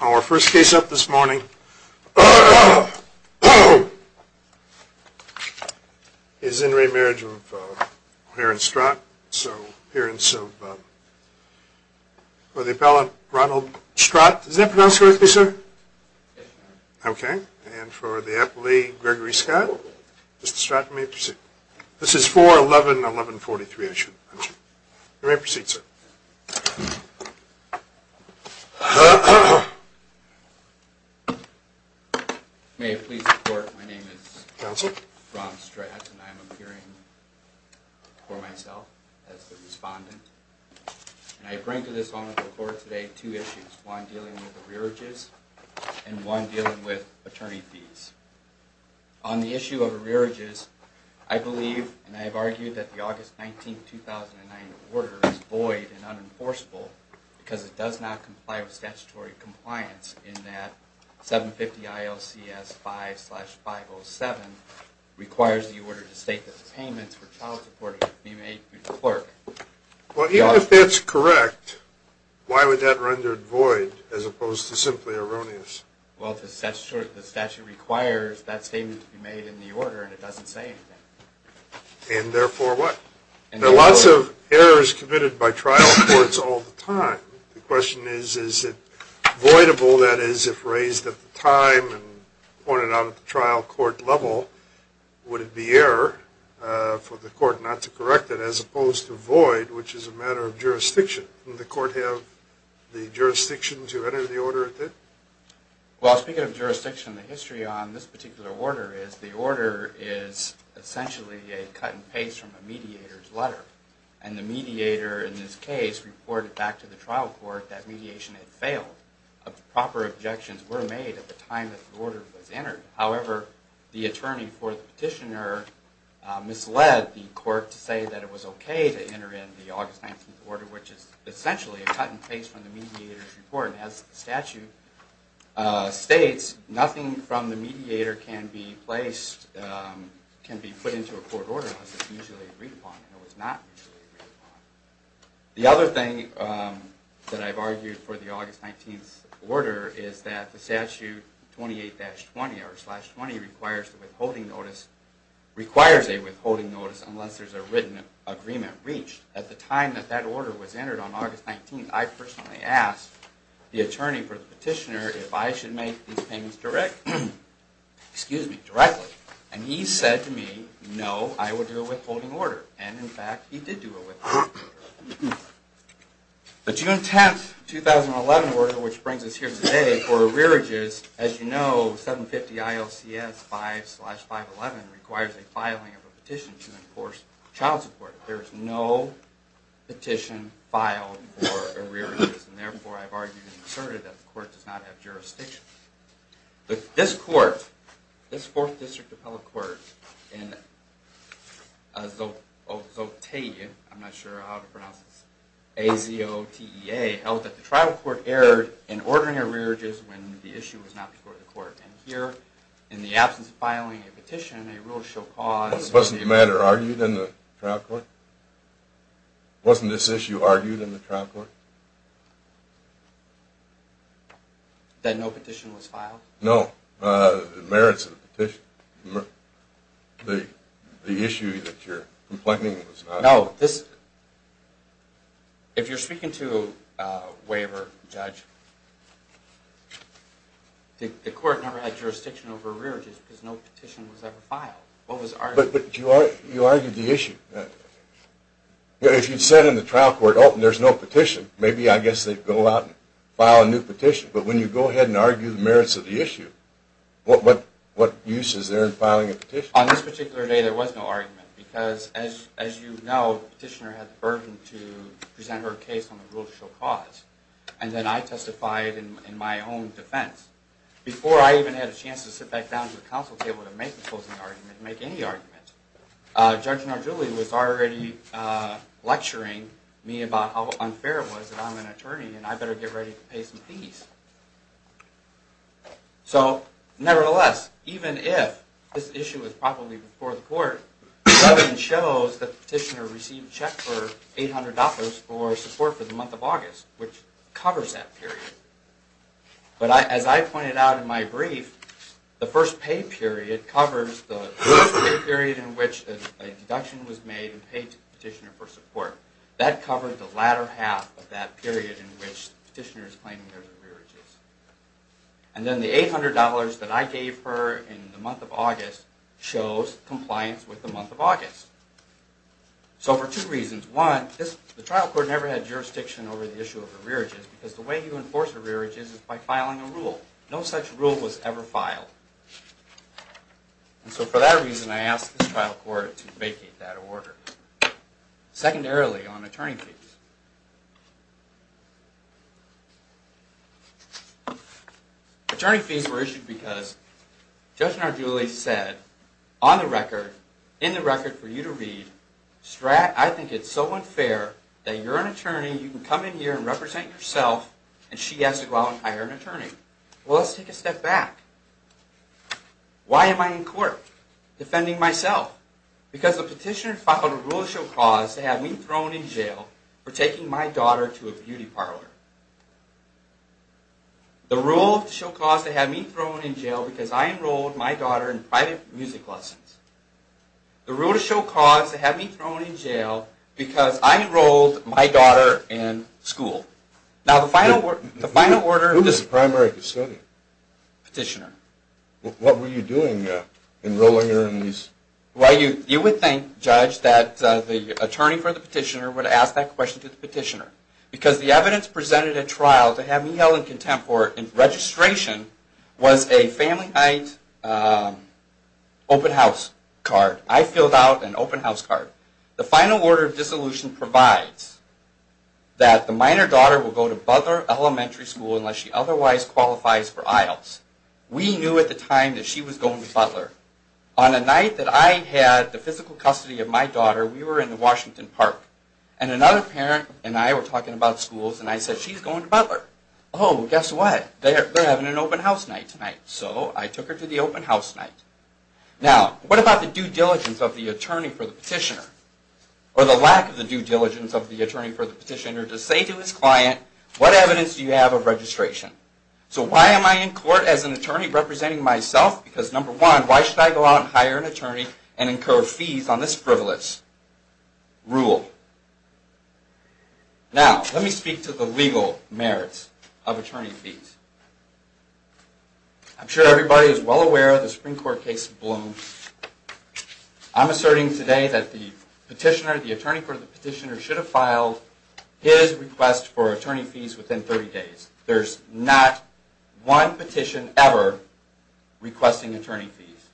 Our first case up this morning is in re-marriage of O'Hare and Stratton, so appearance of the appellant Ronald Stratton. Is that pronounced correctly, sir? Okay. And for the appellee Gregory Scott, Mr. Stratton, you may proceed. This is 4-11-11-43, I should mention. You may proceed, sir. May it please the court, my name is Ron Stratton and I am appearing for myself as the respondent. And I bring to this honorable court today two issues, one dealing with arrearages and one dealing with attorney fees. On the issue of arrearages, I believe and I have argued that the August 19, 2009 order is void and unenforceable because it does not comply with statutory compliance in that 750 ILCS 5-507 requires the order to state that the payments for child support may be made through the clerk. Well, even if that's correct, why would that render it void as opposed to simply erroneous? Well, the statute requires that statement to be made in the order and it doesn't say anything. And therefore what? There are lots of errors committed by trial courts all the time. The question is, is it voidable, that is, if raised at the time and pointed out at the trial court level? Would it be error for the court not to correct it as opposed to void, which is a matter of jurisdiction? Would the court have the jurisdiction to enter the order? Well, speaking of jurisdiction, the history on this particular order is the order is essentially a cut and paste from a mediator's letter. And the mediator in this case reported back to the trial court that mediation had failed. Proper objections were made at the time that the order was entered. However, the attorney for the petitioner misled the court to say that it was okay to enter in the August 19th order, which is essentially a cut and paste from the mediator's report. And as the statute states, nothing from the mediator can be placed, can be put into a court order unless it's mutually agreed upon. And it was not mutually agreed upon. The other thing that I've argued for the August 19th order is that the statute 28-20 or slash 20 requires a withholding notice unless there's a written agreement reached. At the time that that order was entered on August 19th, I personally asked the attorney for the petitioner if I should make these payments direct, excuse me, directly. And he said to me, no, I would do a withholding order. And in fact, he did do a withholding order. The June 10th, 2011 order, which brings us here today for arrearages, as you know, 750 ILCS 5 slash 511 requires a filing of a petition to enforce child support. There is no petition filed for arrearages, and therefore, I've argued and asserted that the court does not have jurisdiction. But this court, this 4th District Appellate Court in Azotea, I'm not sure how to pronounce this, A-Z-O-T-E-A, held that the trial court erred in ordering arrearages when the issue was not before the court. And here, in the absence of filing a petition, a rule shall cause- Wasn't the matter argued in the trial court? Wasn't this issue argued in the trial court? That no petition was filed? No, the merits of the petition, the issue that you're complaining was not filed. No, this, if you're speaking to a waiver judge, the court never had jurisdiction over arrearages because no petition was ever filed. What was argued? But you argued the issue. If you said in the trial court, oh, there's no petition, maybe I guess they'd go out and file a new petition. But when you go ahead and argue the merits of the issue, what use is there in filing a petition? On this particular day, there was no argument because, as you know, the petitioner had the burden to present her case on the rule shall cause. And then I testified in my own defense. Before I even had a chance to sit back down to the council table to make a closing argument, make any argument, Judge Nardulli was already lecturing me about how unfair it was that I'm an attorney and I better get ready to pay some fees. So, nevertheless, even if this issue was probably before the court, the evidence shows that the petitioner received a check for $800 for support for the month of August, which covers that period. But as I pointed out in my brief, the first pay period covers the period in which a deduction was made and paid the petitioner for support. That covered the latter half of that period in which the petitioner is claiming her arrearages. And then the $800 that I gave her in the month of August shows compliance with the month of August. So for two reasons. One, the trial court never had jurisdiction over the issue of arrearages because the way you enforce arrearages is by filing a rule. No such rule was ever filed. And so for that reason, I asked the trial court to vacate that order. Secondarily, on attorney fees. Attorney fees were issued because Judge Nardulli said, on the record, in the record for you to read, I think it's so unfair that you're an attorney, you can come in here and represent yourself, and she has to go out and hire an attorney. Well, let's take a step back. Why am I in court? Defending myself. Because the petitioner filed a rule to show cause to have me thrown in jail for taking my daughter to a beauty parlor. The rule to show cause to have me thrown in jail because I enrolled my daughter in private music lessons. The rule to show cause to have me thrown in jail because I enrolled my daughter in school. Who was the primary custodian? Petitioner. What were you doing enrolling her in these? Well, you would think, Judge, that the attorney for the petitioner would ask that question to the petitioner. Because the evidence presented at trial to have me held in contempt for registration was a family night open house card. I filled out an open house card. The final order of dissolution provides that the minor daughter will go to Butler Elementary School unless she otherwise qualifies for IELTS. We knew at the time that she was going to Butler. On the night that I had the physical custody of my daughter, we were in the Washington Park. And another parent and I were talking about schools. And I said, she's going to Butler. Oh, guess what? They're having an open house night tonight. So I took her to the open house night. Now, what about the due diligence of the attorney for the petitioner? Or the lack of the due diligence of the attorney for the petitioner to say to his client, what evidence do you have of registration? So why am I in court as an attorney representing myself? Because number one, why should I go out and hire an attorney and incur fees on this frivolous rule? Now, let me speak to the legal merits of attorney fees. I'm sure everybody is well aware of the Supreme Court case of Bloom. I'm asserting today that the petitioner, the attorney for the petitioner, should have filed his request for attorney fees within 30 days. There's not one petition ever requesting attorney fees.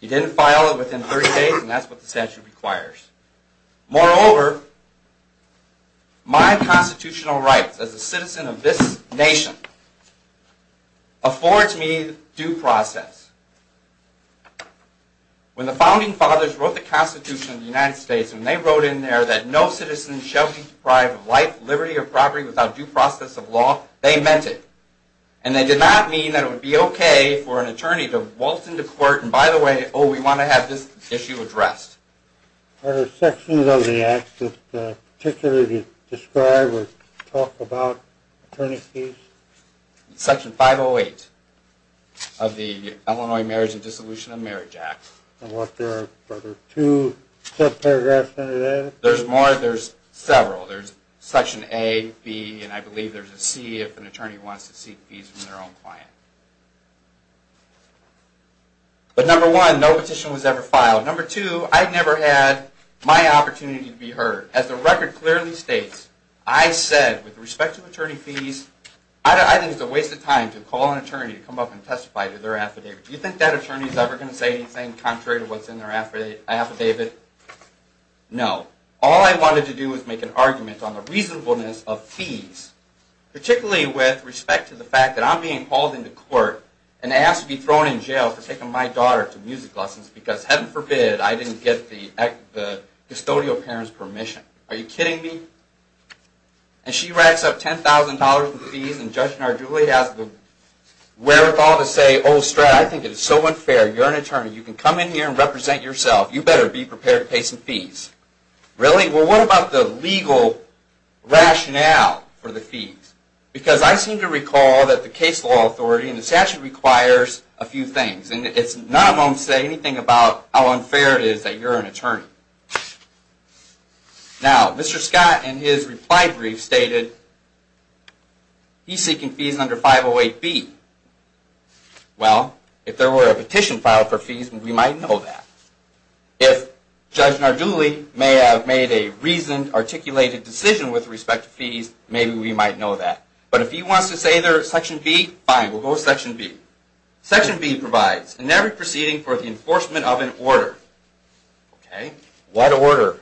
He didn't file it within 30 days, and that's what the statute requires. Moreover, my constitutional rights as a citizen of this nation affords me due process. When the Founding Fathers wrote the Constitution of the United States, when they wrote in there that no citizen shall be deprived of life, liberty, or property without due process of law, they meant it. And they did not mean that it would be okay for an attorney to waltz into court and, by the way, oh, we want to have this issue addressed. Are there sections of the Act that particularly describe or talk about attorney fees? Section 508 of the Illinois Marriage and Dissolution of Marriage Act. Are there two subparagraphs under that? There's more. There's several. There's section A, B, and I believe there's a C if an attorney wants to seek fees from their own client. But number one, no petition was ever filed. Number two, I never had my opportunity to be heard. As the record clearly states, I said with respect to attorney fees, I think it's a waste of time to call an attorney to come up and testify to their affidavit. Do you think that attorney is ever going to say anything contrary to what's in their affidavit? No. All I wanted to do was make an argument on the reasonableness of fees, particularly with respect to the fact that I'm being called into court and asked to be thrown in jail for taking my daughter to music lessons because, heaven forbid, I didn't get the custodial parent's permission. Are you kidding me? And she racks up $10,000 in fees and Judge Narduli has the wherewithal to say, Oh, Stratton, I think it is so unfair. You're an attorney. You can come in here and represent yourself. You better be prepared to pay some fees. Really? Well, what about the legal rationale for the fees? Because I seem to recall that the case law authority, and the statute requires a few things, and none of them say anything about how unfair it is that you're an attorney. Now, Mr. Scott, in his reply brief, stated he's seeking fees under 508B. Well, if there were a petition filed for fees, we might know that. If Judge Narduli may have made a reasoned, articulated decision with respect to fees, maybe we might know that. But if he wants to say they're Section B, fine, we'll go with Section B. Section B provides, in every proceeding for the enforcement of an order. What order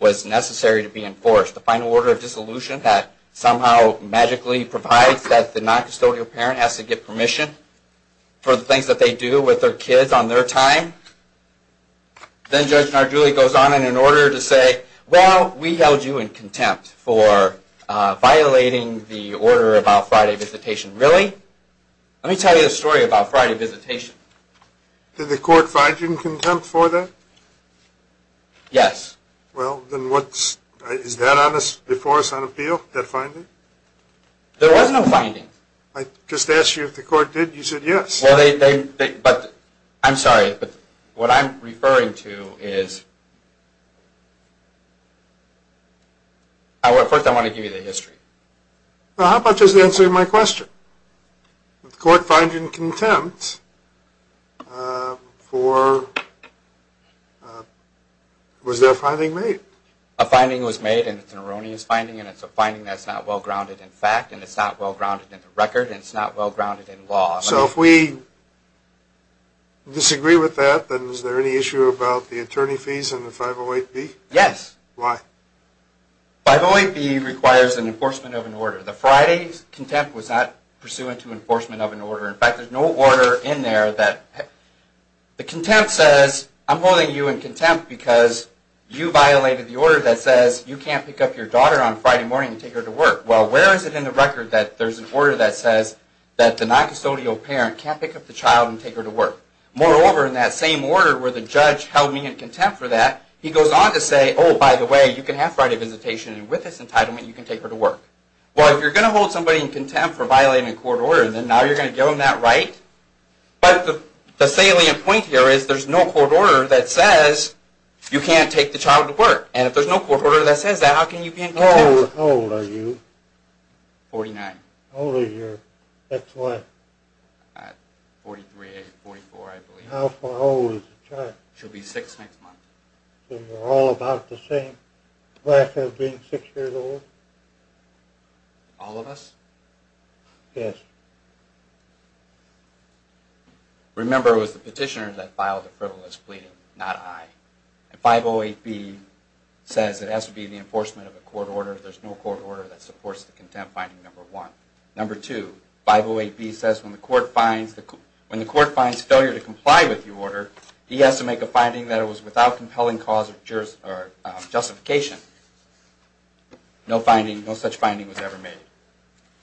was necessary to be enforced? The final order of dissolution that somehow magically provides that the noncustodial parent has to get permission for the things that they do with their kids on their time? Then Judge Narduli goes on in an order to say, Well, we held you in contempt for violating the order about Friday visitation. Really? Let me tell you a story about Friday visitation. Did the court find you in contempt for that? Yes. Well, then what's, is that before us on appeal, that finding? There was no finding. I just asked you if the court did, you said yes. Well, they, but, I'm sorry, but what I'm referring to is, first I want to give you the history. Well, how much is the answer to my question? Did the court find you in contempt for, was there a finding made? A finding was made, and it's an erroneous finding, and it's a finding that's not well-grounded in fact, and it's not well-grounded in the record, and it's not well-grounded in law. So if we disagree with that, then is there any issue about the attorney fees and the 508B? Yes. Why? 508B requires an enforcement of an order. The Friday's contempt was not pursuant to enforcement of an order. In fact, there's no order in there that, the contempt says, I'm holding you in contempt because you violated the order that says you can't pick up your daughter on Friday morning and take her to work. Well, where is it in the record that there's an order that says that the noncustodial parent can't pick up the child and take her to work? Moreover, in that same order where the judge held me in contempt for that, he goes on to say, oh, by the way, you can have Friday visitation, and with this entitlement, you can take her to work. Well, if you're going to hold somebody in contempt for violating a court order, then now you're going to give them that right? But the salient point here is there's no court order that says you can't take the child to work, and if there's no court order that says that, how can you be in contempt? How old are you? Forty-nine. How old is your next wife? Forty-three, forty-four, I believe. How old is the child? She'll be six next month. So you're all about the same, the wife being six years old? All of us? Yes. Remember, it was the petitioner that filed the frivolous plea, not I. And 508B says it has to be the enforcement of a court order. There's no court order that supports the contempt finding, number one. Number two, 508B says when the court finds failure to comply with your order, he has to make a finding that it was without compelling cause or justification. No such finding was ever made.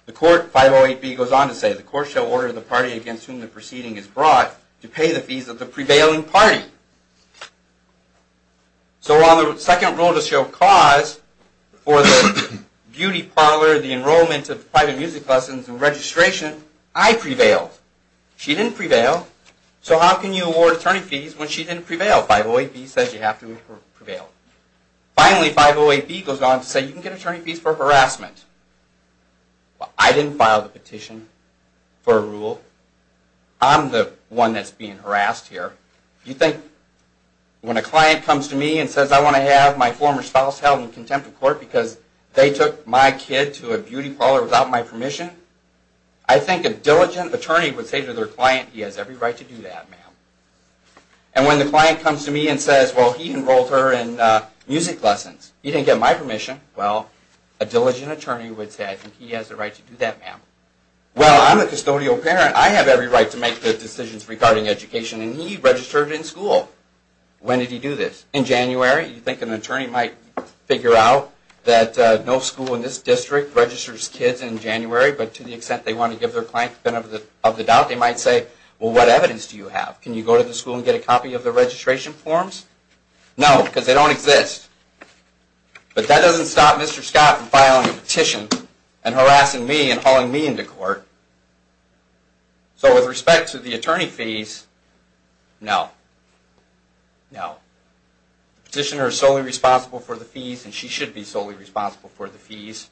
The court, 508B goes on to say, the court shall order the party against whom the proceeding is brought to pay the fees of the prevailing party. So while the second rule does show cause for the beauty parlor, the enrollment of private music lessons and registration, I prevailed. She didn't prevail. So how can you award attorney fees when she didn't prevail? 508B says you have to prevail. Finally, 508B goes on to say you can get attorney fees for harassment. Well, I didn't file the petition for a rule. I'm the one that's being harassed here. You think when a client comes to me and says I want to have my former spouse held in contempt of court I think a diligent attorney would say to their client, he has every right to do that, ma'am. And when the client comes to me and says, well, he enrolled her in music lessons. He didn't get my permission. Well, a diligent attorney would say, I think he has the right to do that, ma'am. Well, I'm a custodial parent. I have every right to make the decisions regarding education. And he registered in school. When did he do this? In January. You think an attorney might figure out that no school in this district registers kids in January, but to the extent they want to give their client the benefit of the doubt, they might say, well, what evidence do you have? Can you go to the school and get a copy of the registration forms? No, because they don't exist. But that doesn't stop Mr. Scott from filing a petition and harassing me and hauling me into court. So with respect to the attorney fees, no. No. The petitioner is solely responsible for the fees, and she should be solely responsible for the fees.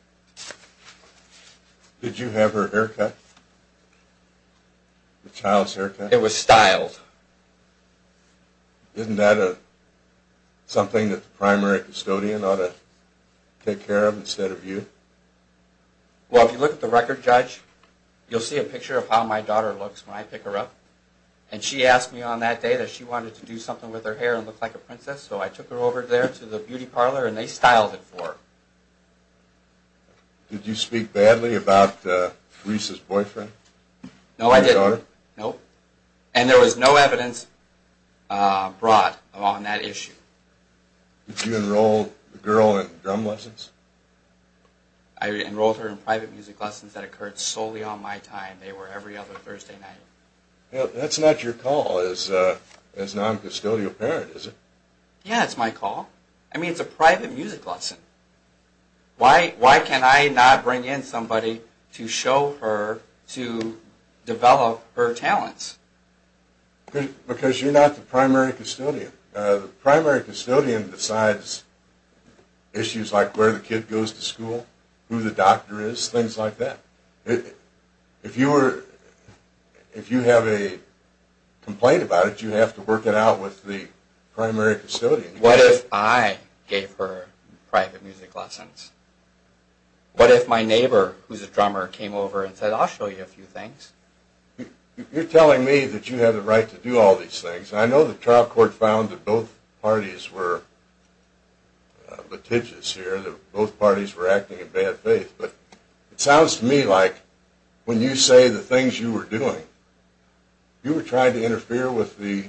Did you have her haircut? The child's haircut? It was styled. Isn't that something that the primary custodian ought to take care of instead of you? Well, if you look at the record, Judge, you'll see a picture of how my daughter looks when I pick her up. And she asked me on that day that she wanted to do something with her hair and look like a princess, so I took her over there to the beauty parlor, and they styled it for her. Did you speak badly about Reese's boyfriend? No, I didn't. And there was no evidence brought on that issue. Did you enroll the girl in drum lessons? I enrolled her in private music lessons that occurred solely on my time. That's not your call as non-custodial parent, is it? Yeah, it's my call. I mean, it's a private music lesson. Why can I not bring in somebody to show her to develop her talents? Because you're not the primary custodian. The primary custodian decides issues like where the kid goes to school, who the doctor is, things like that. If you have a complaint about it, you have to work it out with the primary custodian. What if I gave her private music lessons? What if my neighbor, who's a drummer, came over and said, I'll show you a few things? You're telling me that you have the right to do all these things. I know the trial court found that both parties were litigious here, that both parties were acting in bad faith. But it sounds to me like when you say the things you were doing, you were trying to interfere with the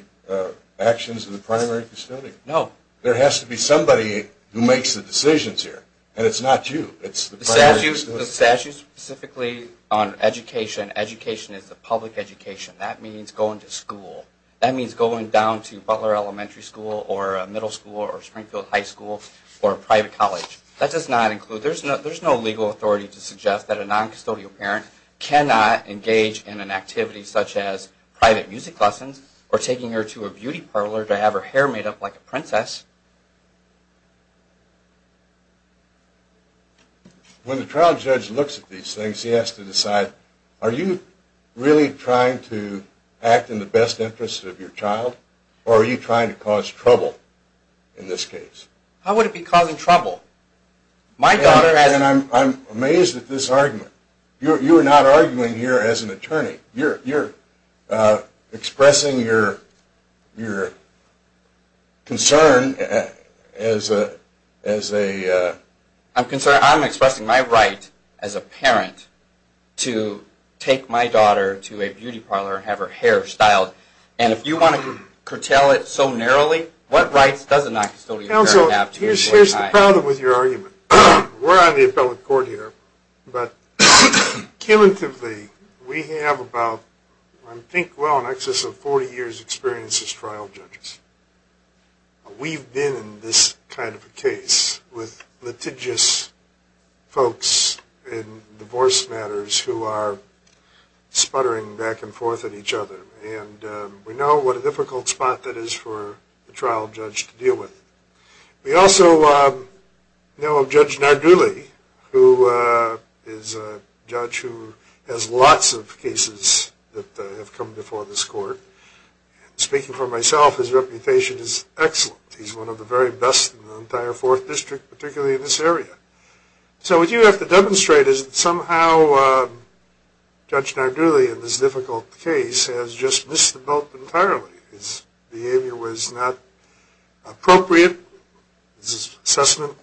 actions of the primary custodian. No. There has to be somebody who makes the decisions here, and it's not you. It's the primary custodian. The statute specifically on education, education is a public education. That means going to school. That means going down to Butler Elementary School or a middle school or Springfield High School or a private college. That does not include, there's no legal authority to suggest that a noncustodial parent cannot engage in an activity such as private music lessons or taking her to a beauty parlor to have her hair made up like a princess. When the trial judge looks at these things, he has to decide, are you really trying to act in the best interest of your child, or are you trying to cause trouble in this case? How would it be causing trouble? I'm amazed at this argument. You are not arguing here as an attorney. You're expressing your concern as a... I'm expressing my right as a parent to take my daughter to a beauty parlor and have her hair styled. And if you want to curtail it so narrowly, what rights does a noncustodial parent have to... Here's the problem with your argument. We're on the appellate court here. But cumulatively, we have about, I think well in excess of 40 years experience as trial judges. We've been in this kind of a case with litigious folks in divorce matters who are sputtering back and forth at each other. And we know what a difficult spot that is for the trial judge to deal with. We also know of Judge Narduli, who is a judge who has lots of cases that have come before this court. Speaking for myself, his reputation is excellent. He's one of the very best in the entire 4th District, particularly in this area. So what you have to demonstrate is that somehow Judge Narduli in this difficult case has just missed the boat entirely. His behavior was not appropriate. His assessment,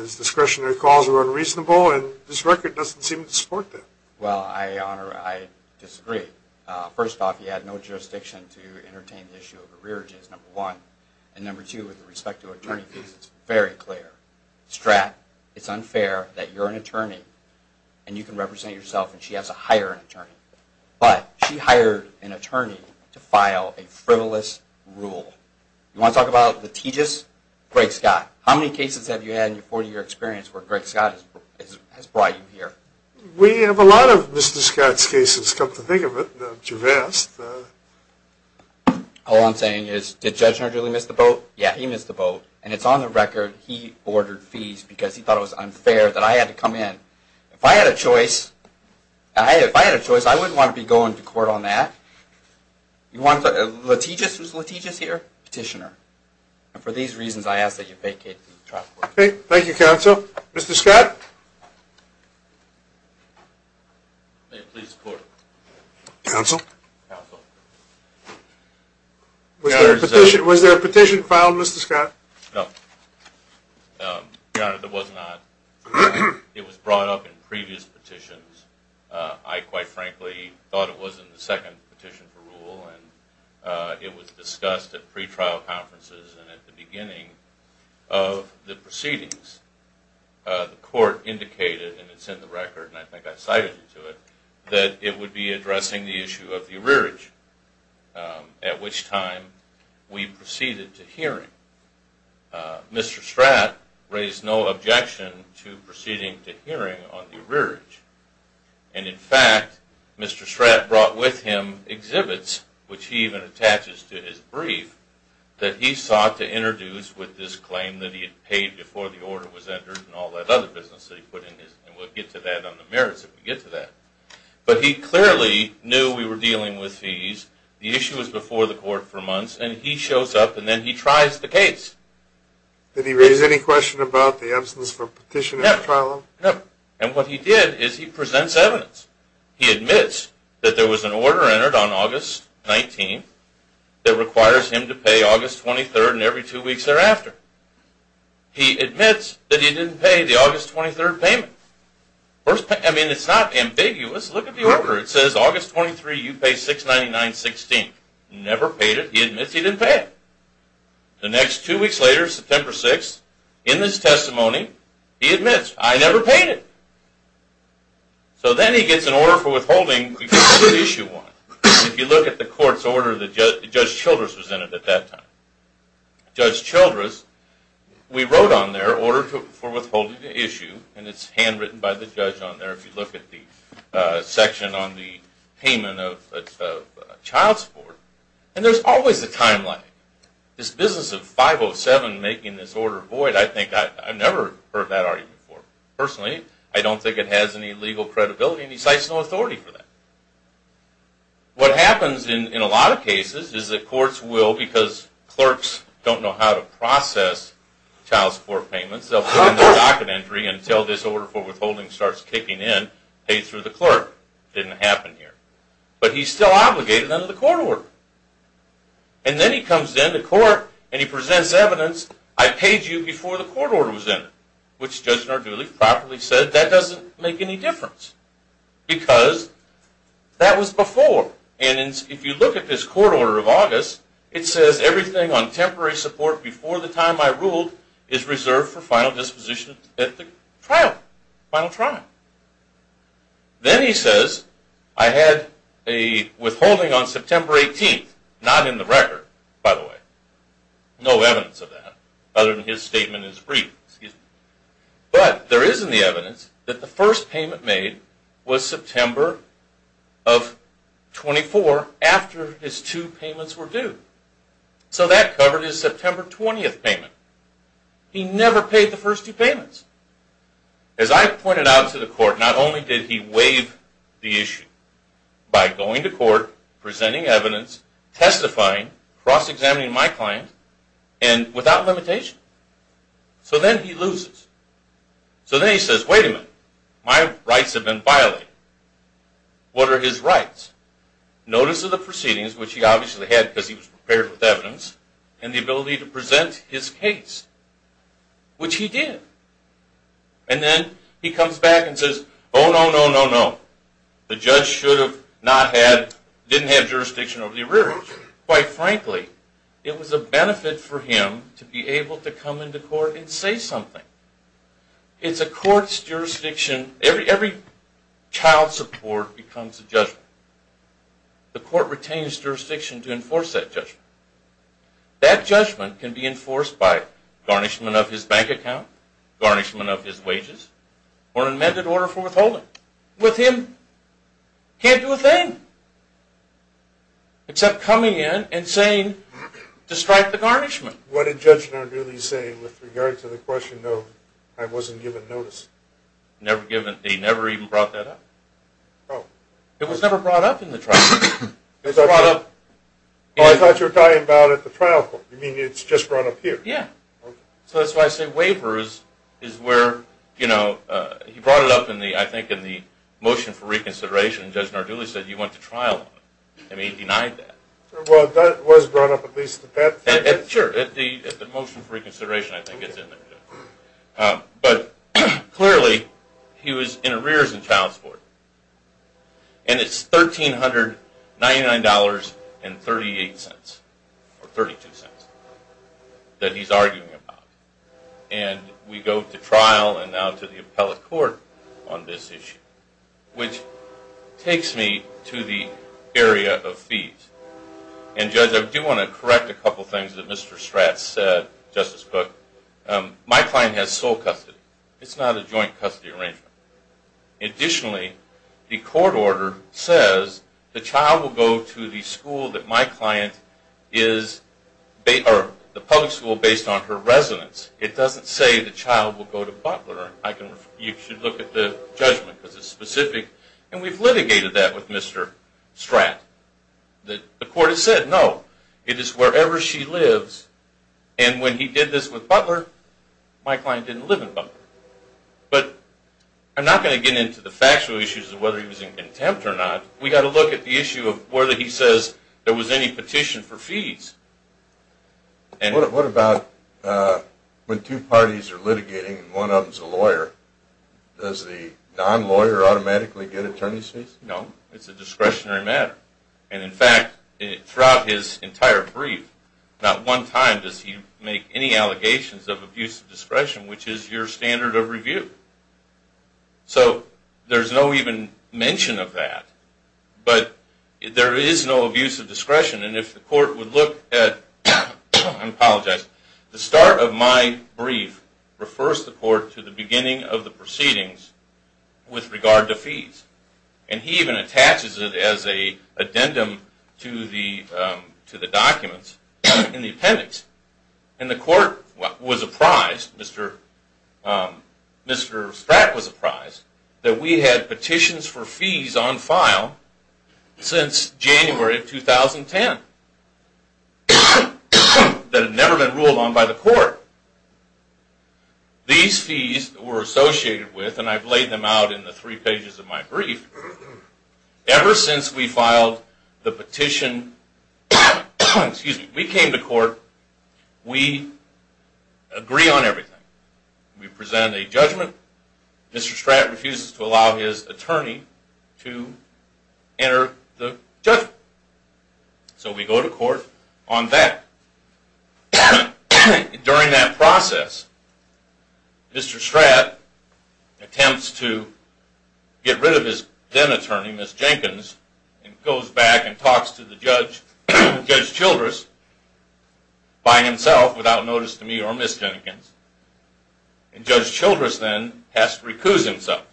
his discretionary calls were unreasonable. And this record doesn't seem to support that. Well, Your Honor, I disagree. First off, he had no jurisdiction to entertain the issue of arrearages, number one. And number two, with respect to attorney fees, it's very clear. Strat, it's unfair that you're an attorney and you can represent yourself and she has to hire an attorney. But she hired an attorney to file a frivolous rule. You want to talk about litigious Greg Scott? How many cases have you had in your 40-year experience where Greg Scott has brought you here? We have a lot of Mr. Scott's cases come to think of it. They're too vast. All I'm saying is, did Judge Narduli miss the boat? Yeah, he missed the boat. And it's on the record he ordered fees because he thought it was unfair that I had to come in. If I had a choice, I wouldn't want to be going to court on that. You want litigious, who's litigious here? Petitioner. And for these reasons, I ask that you vacate the trial court. Thank you, counsel. Mr. Scott? May it please the court. Counsel? Counsel. Was there a petition filed, Mr. Scott? No. Your Honor, there was not. It was brought up in previous petitions. I, quite frankly, thought it was in the second petition for rule. And it was discussed at pretrial conferences and at the beginning of the proceedings. The court indicated, and it's in the record, and I think I cited you to it, that it would be addressing the issue of the arrearage, at which time we proceeded to hearing. Mr. Stratt raised no objection to proceeding to hearing on the arrearage. And, in fact, Mr. Stratt brought with him exhibits, which he even attaches to his brief, that he sought to introduce with this claim that he had paid before the order was entered and all that other business that he put in his. And we'll get to that on the merits when we get to that. But he clearly knew we were dealing with fees. The issue was before the court for months. And he shows up, and then he tries the case. Did he raise any question about the absence of a petition at the trial? No. And what he did is he presents evidence. He admits that there was an order entered on August 19th that requires him to pay August 23rd and every two weeks thereafter. He admits that he didn't pay the August 23rd payment. I mean, it's not ambiguous. Look at the order. It says August 23rd, you pay $699.16. Never paid it. He admits he didn't pay it. The next two weeks later, September 6th, in this testimony, he admits, I never paid it. So then he gets an order for withholding because of issue one. If you look at the court's order that Judge Childress presented at that time. Judge Childress, we wrote on there, order for withholding the issue, and it's handwritten by the judge on there if you look at the section on the payment of child support. And there's always a timeline. This business of 507 making this order void, I think I've never heard that argument before. Personally, I don't think it has any legal credibility, and he cites no authority for that. What happens in a lot of cases is that courts will, because clerks don't know how to process child support payments, they'll put it in the docket entry until this order for withholding starts kicking in, paid through the clerk. Didn't happen here. But he's still obligated under the court order. And then he comes into court and he presents evidence, I paid you before the court order was in, which Judge Narduli properly said that doesn't make any difference because that was before. And if you look at this court order of August, it says everything on temporary support before the time I ruled is reserved for final disposition at the trial. Final trial. Then he says, I had a withholding on September 18th, not in the record, by the way. No evidence of that, other than his statement is brief. But there is in the evidence that the first payment made was September of 24 after his two payments were due. So that covered his September 20th payment. He never paid the first two payments. As I pointed out to the court, not only did he waive the issue by going to court, presenting evidence, testifying, cross-examining my client, and without limitation. So then he loses. So then he says, wait a minute, my rights have been violated. What are his rights? Notice of the proceedings, which he obviously had because he was prepared with evidence, and the ability to present his case, which he did. And then he comes back and says, oh, no, no, no, no. The judge should have not had, didn't have jurisdiction over the arrearage. Quite frankly, it was a benefit for him to be able to come into court and say something. It's a court's jurisdiction. Every child's support becomes a judgment. The court retains jurisdiction to enforce that judgment. That judgment can be enforced by garnishment of his bank account, garnishment of his wages, or an amended order for withholding. With him, can't do a thing. Except coming in and saying, to strike the garnishment. What did Judge Narduli say with regard to the question, though, I wasn't given notice? He never even brought that up. Oh. It was never brought up in the trial. Oh, I thought you were talking about it at the trial court. You mean it's just brought up here? Yeah. So that's why I say waiver is where, you know, he brought it up, I think, in the motion for reconsideration. Judge Narduli said you went to trial on it. And he denied that. Well, that was brought up at least at that point. Sure. The motion for reconsideration, I think, is in there, too. But clearly, he was in arrears in child support. And it's $1,399.38, or $0.32, that he's arguing about. And we go to trial and now to the appellate court on this issue, which takes me to the area of fees. And, Judge, I do want to correct a couple of things that Mr. Stratz said, Justice Cook. My client has sole custody. It's not a joint custody arrangement. Additionally, the court order says the child will go to the school that my It doesn't say the child will go to Butler. You should look at the judgment because it's specific. And we've litigated that with Mr. Stratz. The court has said, no, it is wherever she lives. And when he did this with Butler, my client didn't live in Butler. But I'm not going to get into the factual issues of whether he was in contempt or not. We've got to look at the issue of whether he says there was any petition for fees. What about when two parties are litigating and one of them is a lawyer, does the non-lawyer automatically get attorney's fees? No. It's a discretionary matter. And, in fact, throughout his entire brief, not one time does he make any allegations of abuse of discretion, which is your standard of review. So there's no even mention of that. But there is no abuse of discretion. And if the court would look at, I apologize, the start of my brief refers the court to the beginning of the proceedings with regard to fees. And he even attaches it as an addendum to the documents in the appendix. And the court was apprised, Mr. Stratz was apprised, that we had petitions for fees on file since January of 2010 that had never been ruled on by the court. These fees were associated with, and I've laid them out in the three pages of my brief, ever since we filed the petition. We came to court. We agree on everything. We present a judgment. Mr. Stratz refuses to allow his attorney to enter the judgment. So we go to court on that. During that process, Mr. Stratz attempts to get rid of his then-attorney, Ms. Jenkins, and goes back and talks to Judge Childress by himself, without notice to me or Ms. Jenkins. And Judge Childress then has to recuse himself.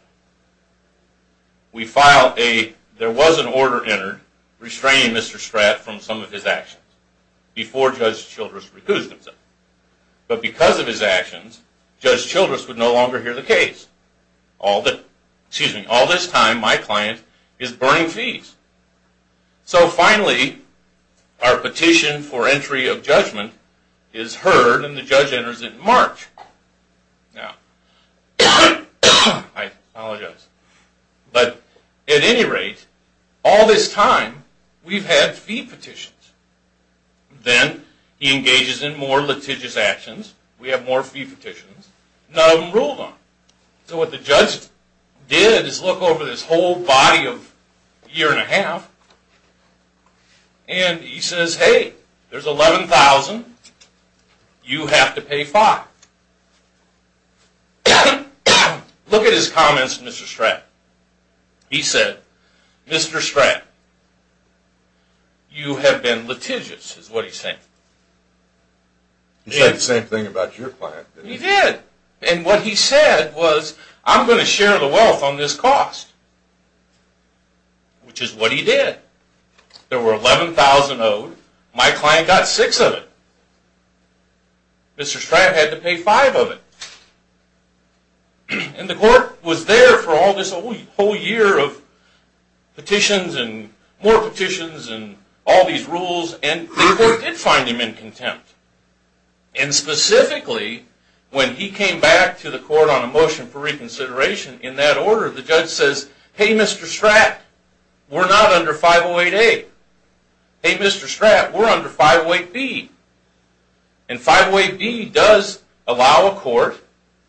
There was an order entered restraining Mr. Stratz from some of his actions before Judge Childress recused himself. But because of his actions, Judge Childress would no longer hear the case. All this time, my client is burning fees. So finally, our petition for entry of judgment is heard, and the judge enters it in March. I apologize. But at any rate, all this time, we've had fee petitions. Then he engages in more litigious actions. We have more fee petitions. None of them ruled on. So what the judge did is look over this whole body of a year and a half, and he says, hey, there's $11,000. You have to pay $5,000. Look at his comments to Mr. Stratz. He said, Mr. Stratz, you have been litigious, is what he said. He said the same thing about your client, didn't he? He did. And what he said was, I'm going to share the wealth on this cost, which is what he did. There were $11,000 owed. My client got six of it. Mr. Stratz had to pay five of it. And the court was there for all this whole year of petitions and more petitions and all these rules, and the court did find him in contempt. And specifically, when he came back to the court on a motion for reconsideration, in that order, the judge says, hey, Mr. Stratz, we're not under 508A. Hey, Mr. Stratz, we're under 508B. And 508B does allow a court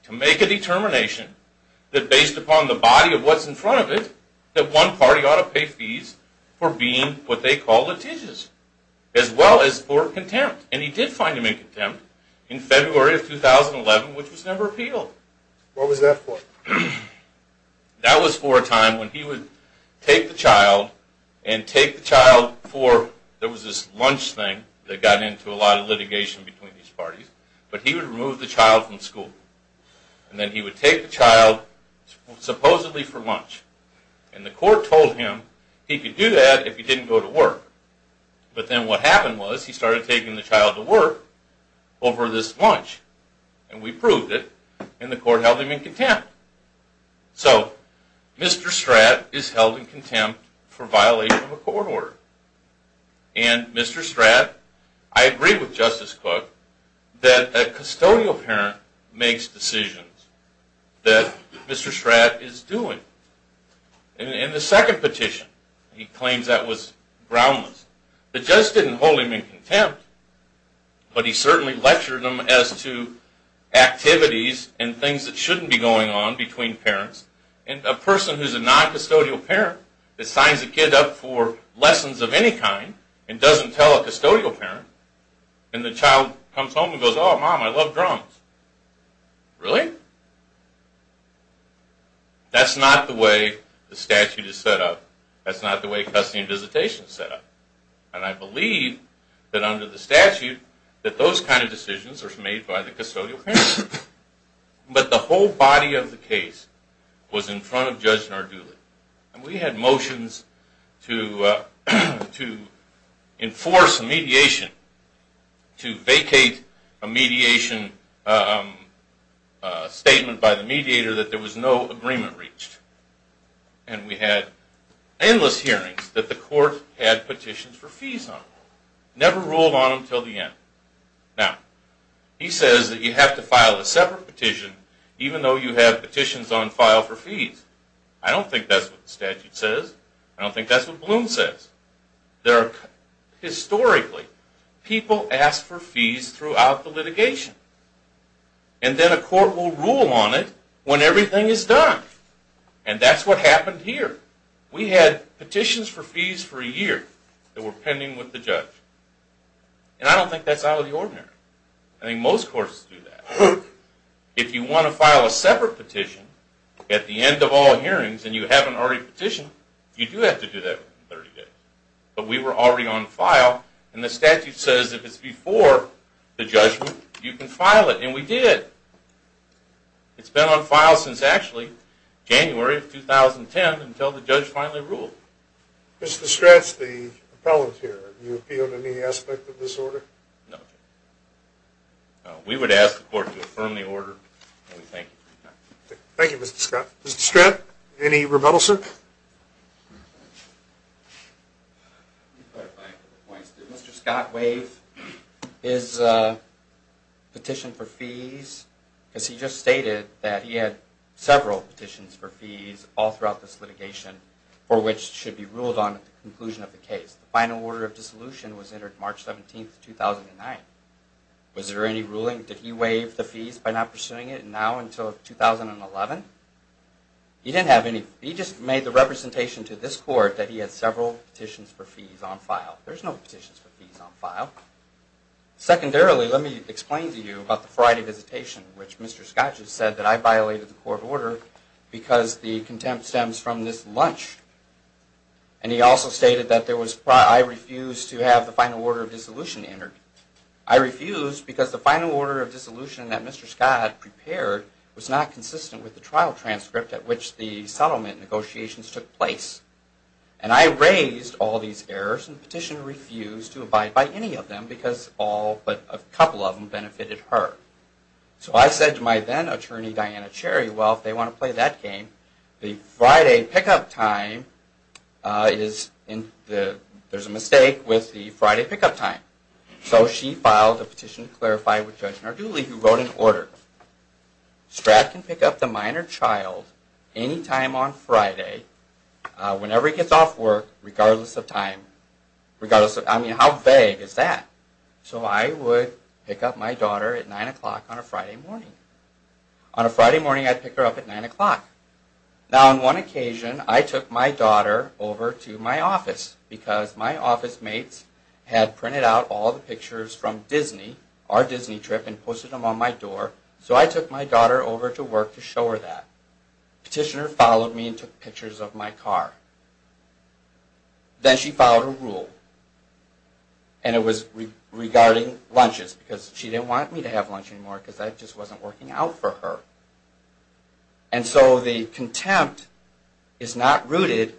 to make a determination that, based upon the body of what's in front of it, that one party ought to pay fees for being what they call litigious, as well as for contempt. And he did find him in contempt in February of 2011, which was never appealed. What was that for? That was for a time when he would take the child and take the child for, there was this lunch thing that got into a lot of litigation between these parties, but he would remove the child from school. And then he would take the child supposedly for lunch. And the court told him he could do that if he didn't go to work. But then what happened was he started taking the child to work over this lunch, and we proved it, and the court held him in contempt. So Mr. Stratz is held in contempt for violation of a court order. And Mr. Stratz, I agree with Justice Cook, that a custodial parent makes decisions that Mr. Stratz is doing. In the second petition, he claims that was groundless. The judge didn't hold him in contempt, but he certainly lectured him as to activities and things that shouldn't be going on between parents. And a person who's a non-custodial parent that signs a kid up for lessons of any kind and doesn't tell a custodial parent, and the child comes home and goes, oh, Mom, I love drums. Really? That's not the way the statute is set up. That's not the way custody and visitation is set up. And I believe that under the statute, that those kind of decisions are made by the custodial parent. But the whole body of the case was in front of Judge Narduli. And we had motions to enforce a mediation, to vacate a mediation statement by the mediator that there was no agreement reached. And we had endless hearings that the court had petitions for fees on. Never ruled on them until the end. Now, he says that you have to file a separate petition even though you have petitions on file for fees. I don't think that's what the statute says. I don't think that's what Bloom says. Historically, people ask for fees throughout the litigation. And then a court will rule on it when everything is done. And that's what happened here. We had petitions for fees for a year that were pending with the judge. And I don't think that's out of the ordinary. I think most courts do that. If you want to file a separate petition at the end of all hearings, and you haven't already petitioned, you do have to do that within 30 days. But we were already on file, and the statute says if it's before the judgment, you can file it. And we did. It's been on file since actually January of 2010 until the judge finally ruled. Mr. Stratt, the appellant here, do you appeal to any aspect of this order? No. We would ask the court to affirm the order, and we thank you for your time. Thank you, Mr. Scott. Mr. Stratt, any rebuttal, sir? Let me clarify a couple of points. Did Mr. Scott waive his petition for fees? Because he just stated that he had several petitions for fees all throughout this litigation for which should be ruled on at the conclusion of the case. The final order of dissolution was entered March 17, 2009. Was there any ruling? Did he waive the fees by not pursuing it now until 2011? He didn't have any. He just made the representation to this court that he had several petitions for fees on file. There's no petitions for fees on file. Secondarily, let me explain to you about the Friday visitation, which Mr. Scott just said that I violated the court order because the contempt stems from this lunch. And he also stated that I refused to have the final order of dissolution entered. It was not consistent with the trial transcript at which the settlement negotiations took place. And I raised all these errors, and the petitioner refused to abide by any of them because all but a couple of them benefited her. So I said to my then-attorney, Diana Cherry, well, if they want to play that game, the Friday pickup time is, there's a mistake with the Friday pickup time. So she filed a petition to clarify with Judge Narduli, who wrote an order. Scott can pick up the minor child any time on Friday, whenever he gets off work, regardless of time. I mean, how vague is that? So I would pick up my daughter at 9 o'clock on a Friday morning. On a Friday morning, I'd pick her up at 9 o'clock. Now, on one occasion, I took my daughter over to my office because my office mates had printed out all the pictures from Disney, our Disney trip, and posted them on my door. So I took my daughter over to work to show her that. The petitioner followed me and took pictures of my car. Then she filed a rule, and it was regarding lunches, because she didn't want me to have lunch anymore because I just wasn't working out for her. And so the contempt is not rooted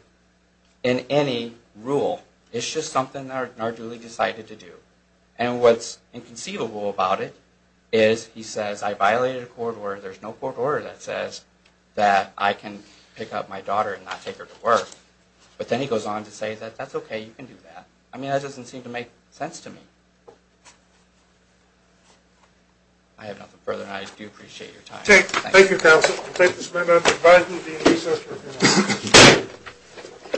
in any rule. It's just something that Narduli decided to do. And what's inconceivable about it is he says, I violated a court order, there's no court order that says that I can pick up my daughter and not take her to work. But then he goes on to say that that's okay, you can do that. I mean, that doesn't seem to make sense to me. I have nothing further, and I do appreciate your time. Thank you, counsel. Thank you, Mr. President. Goodbye.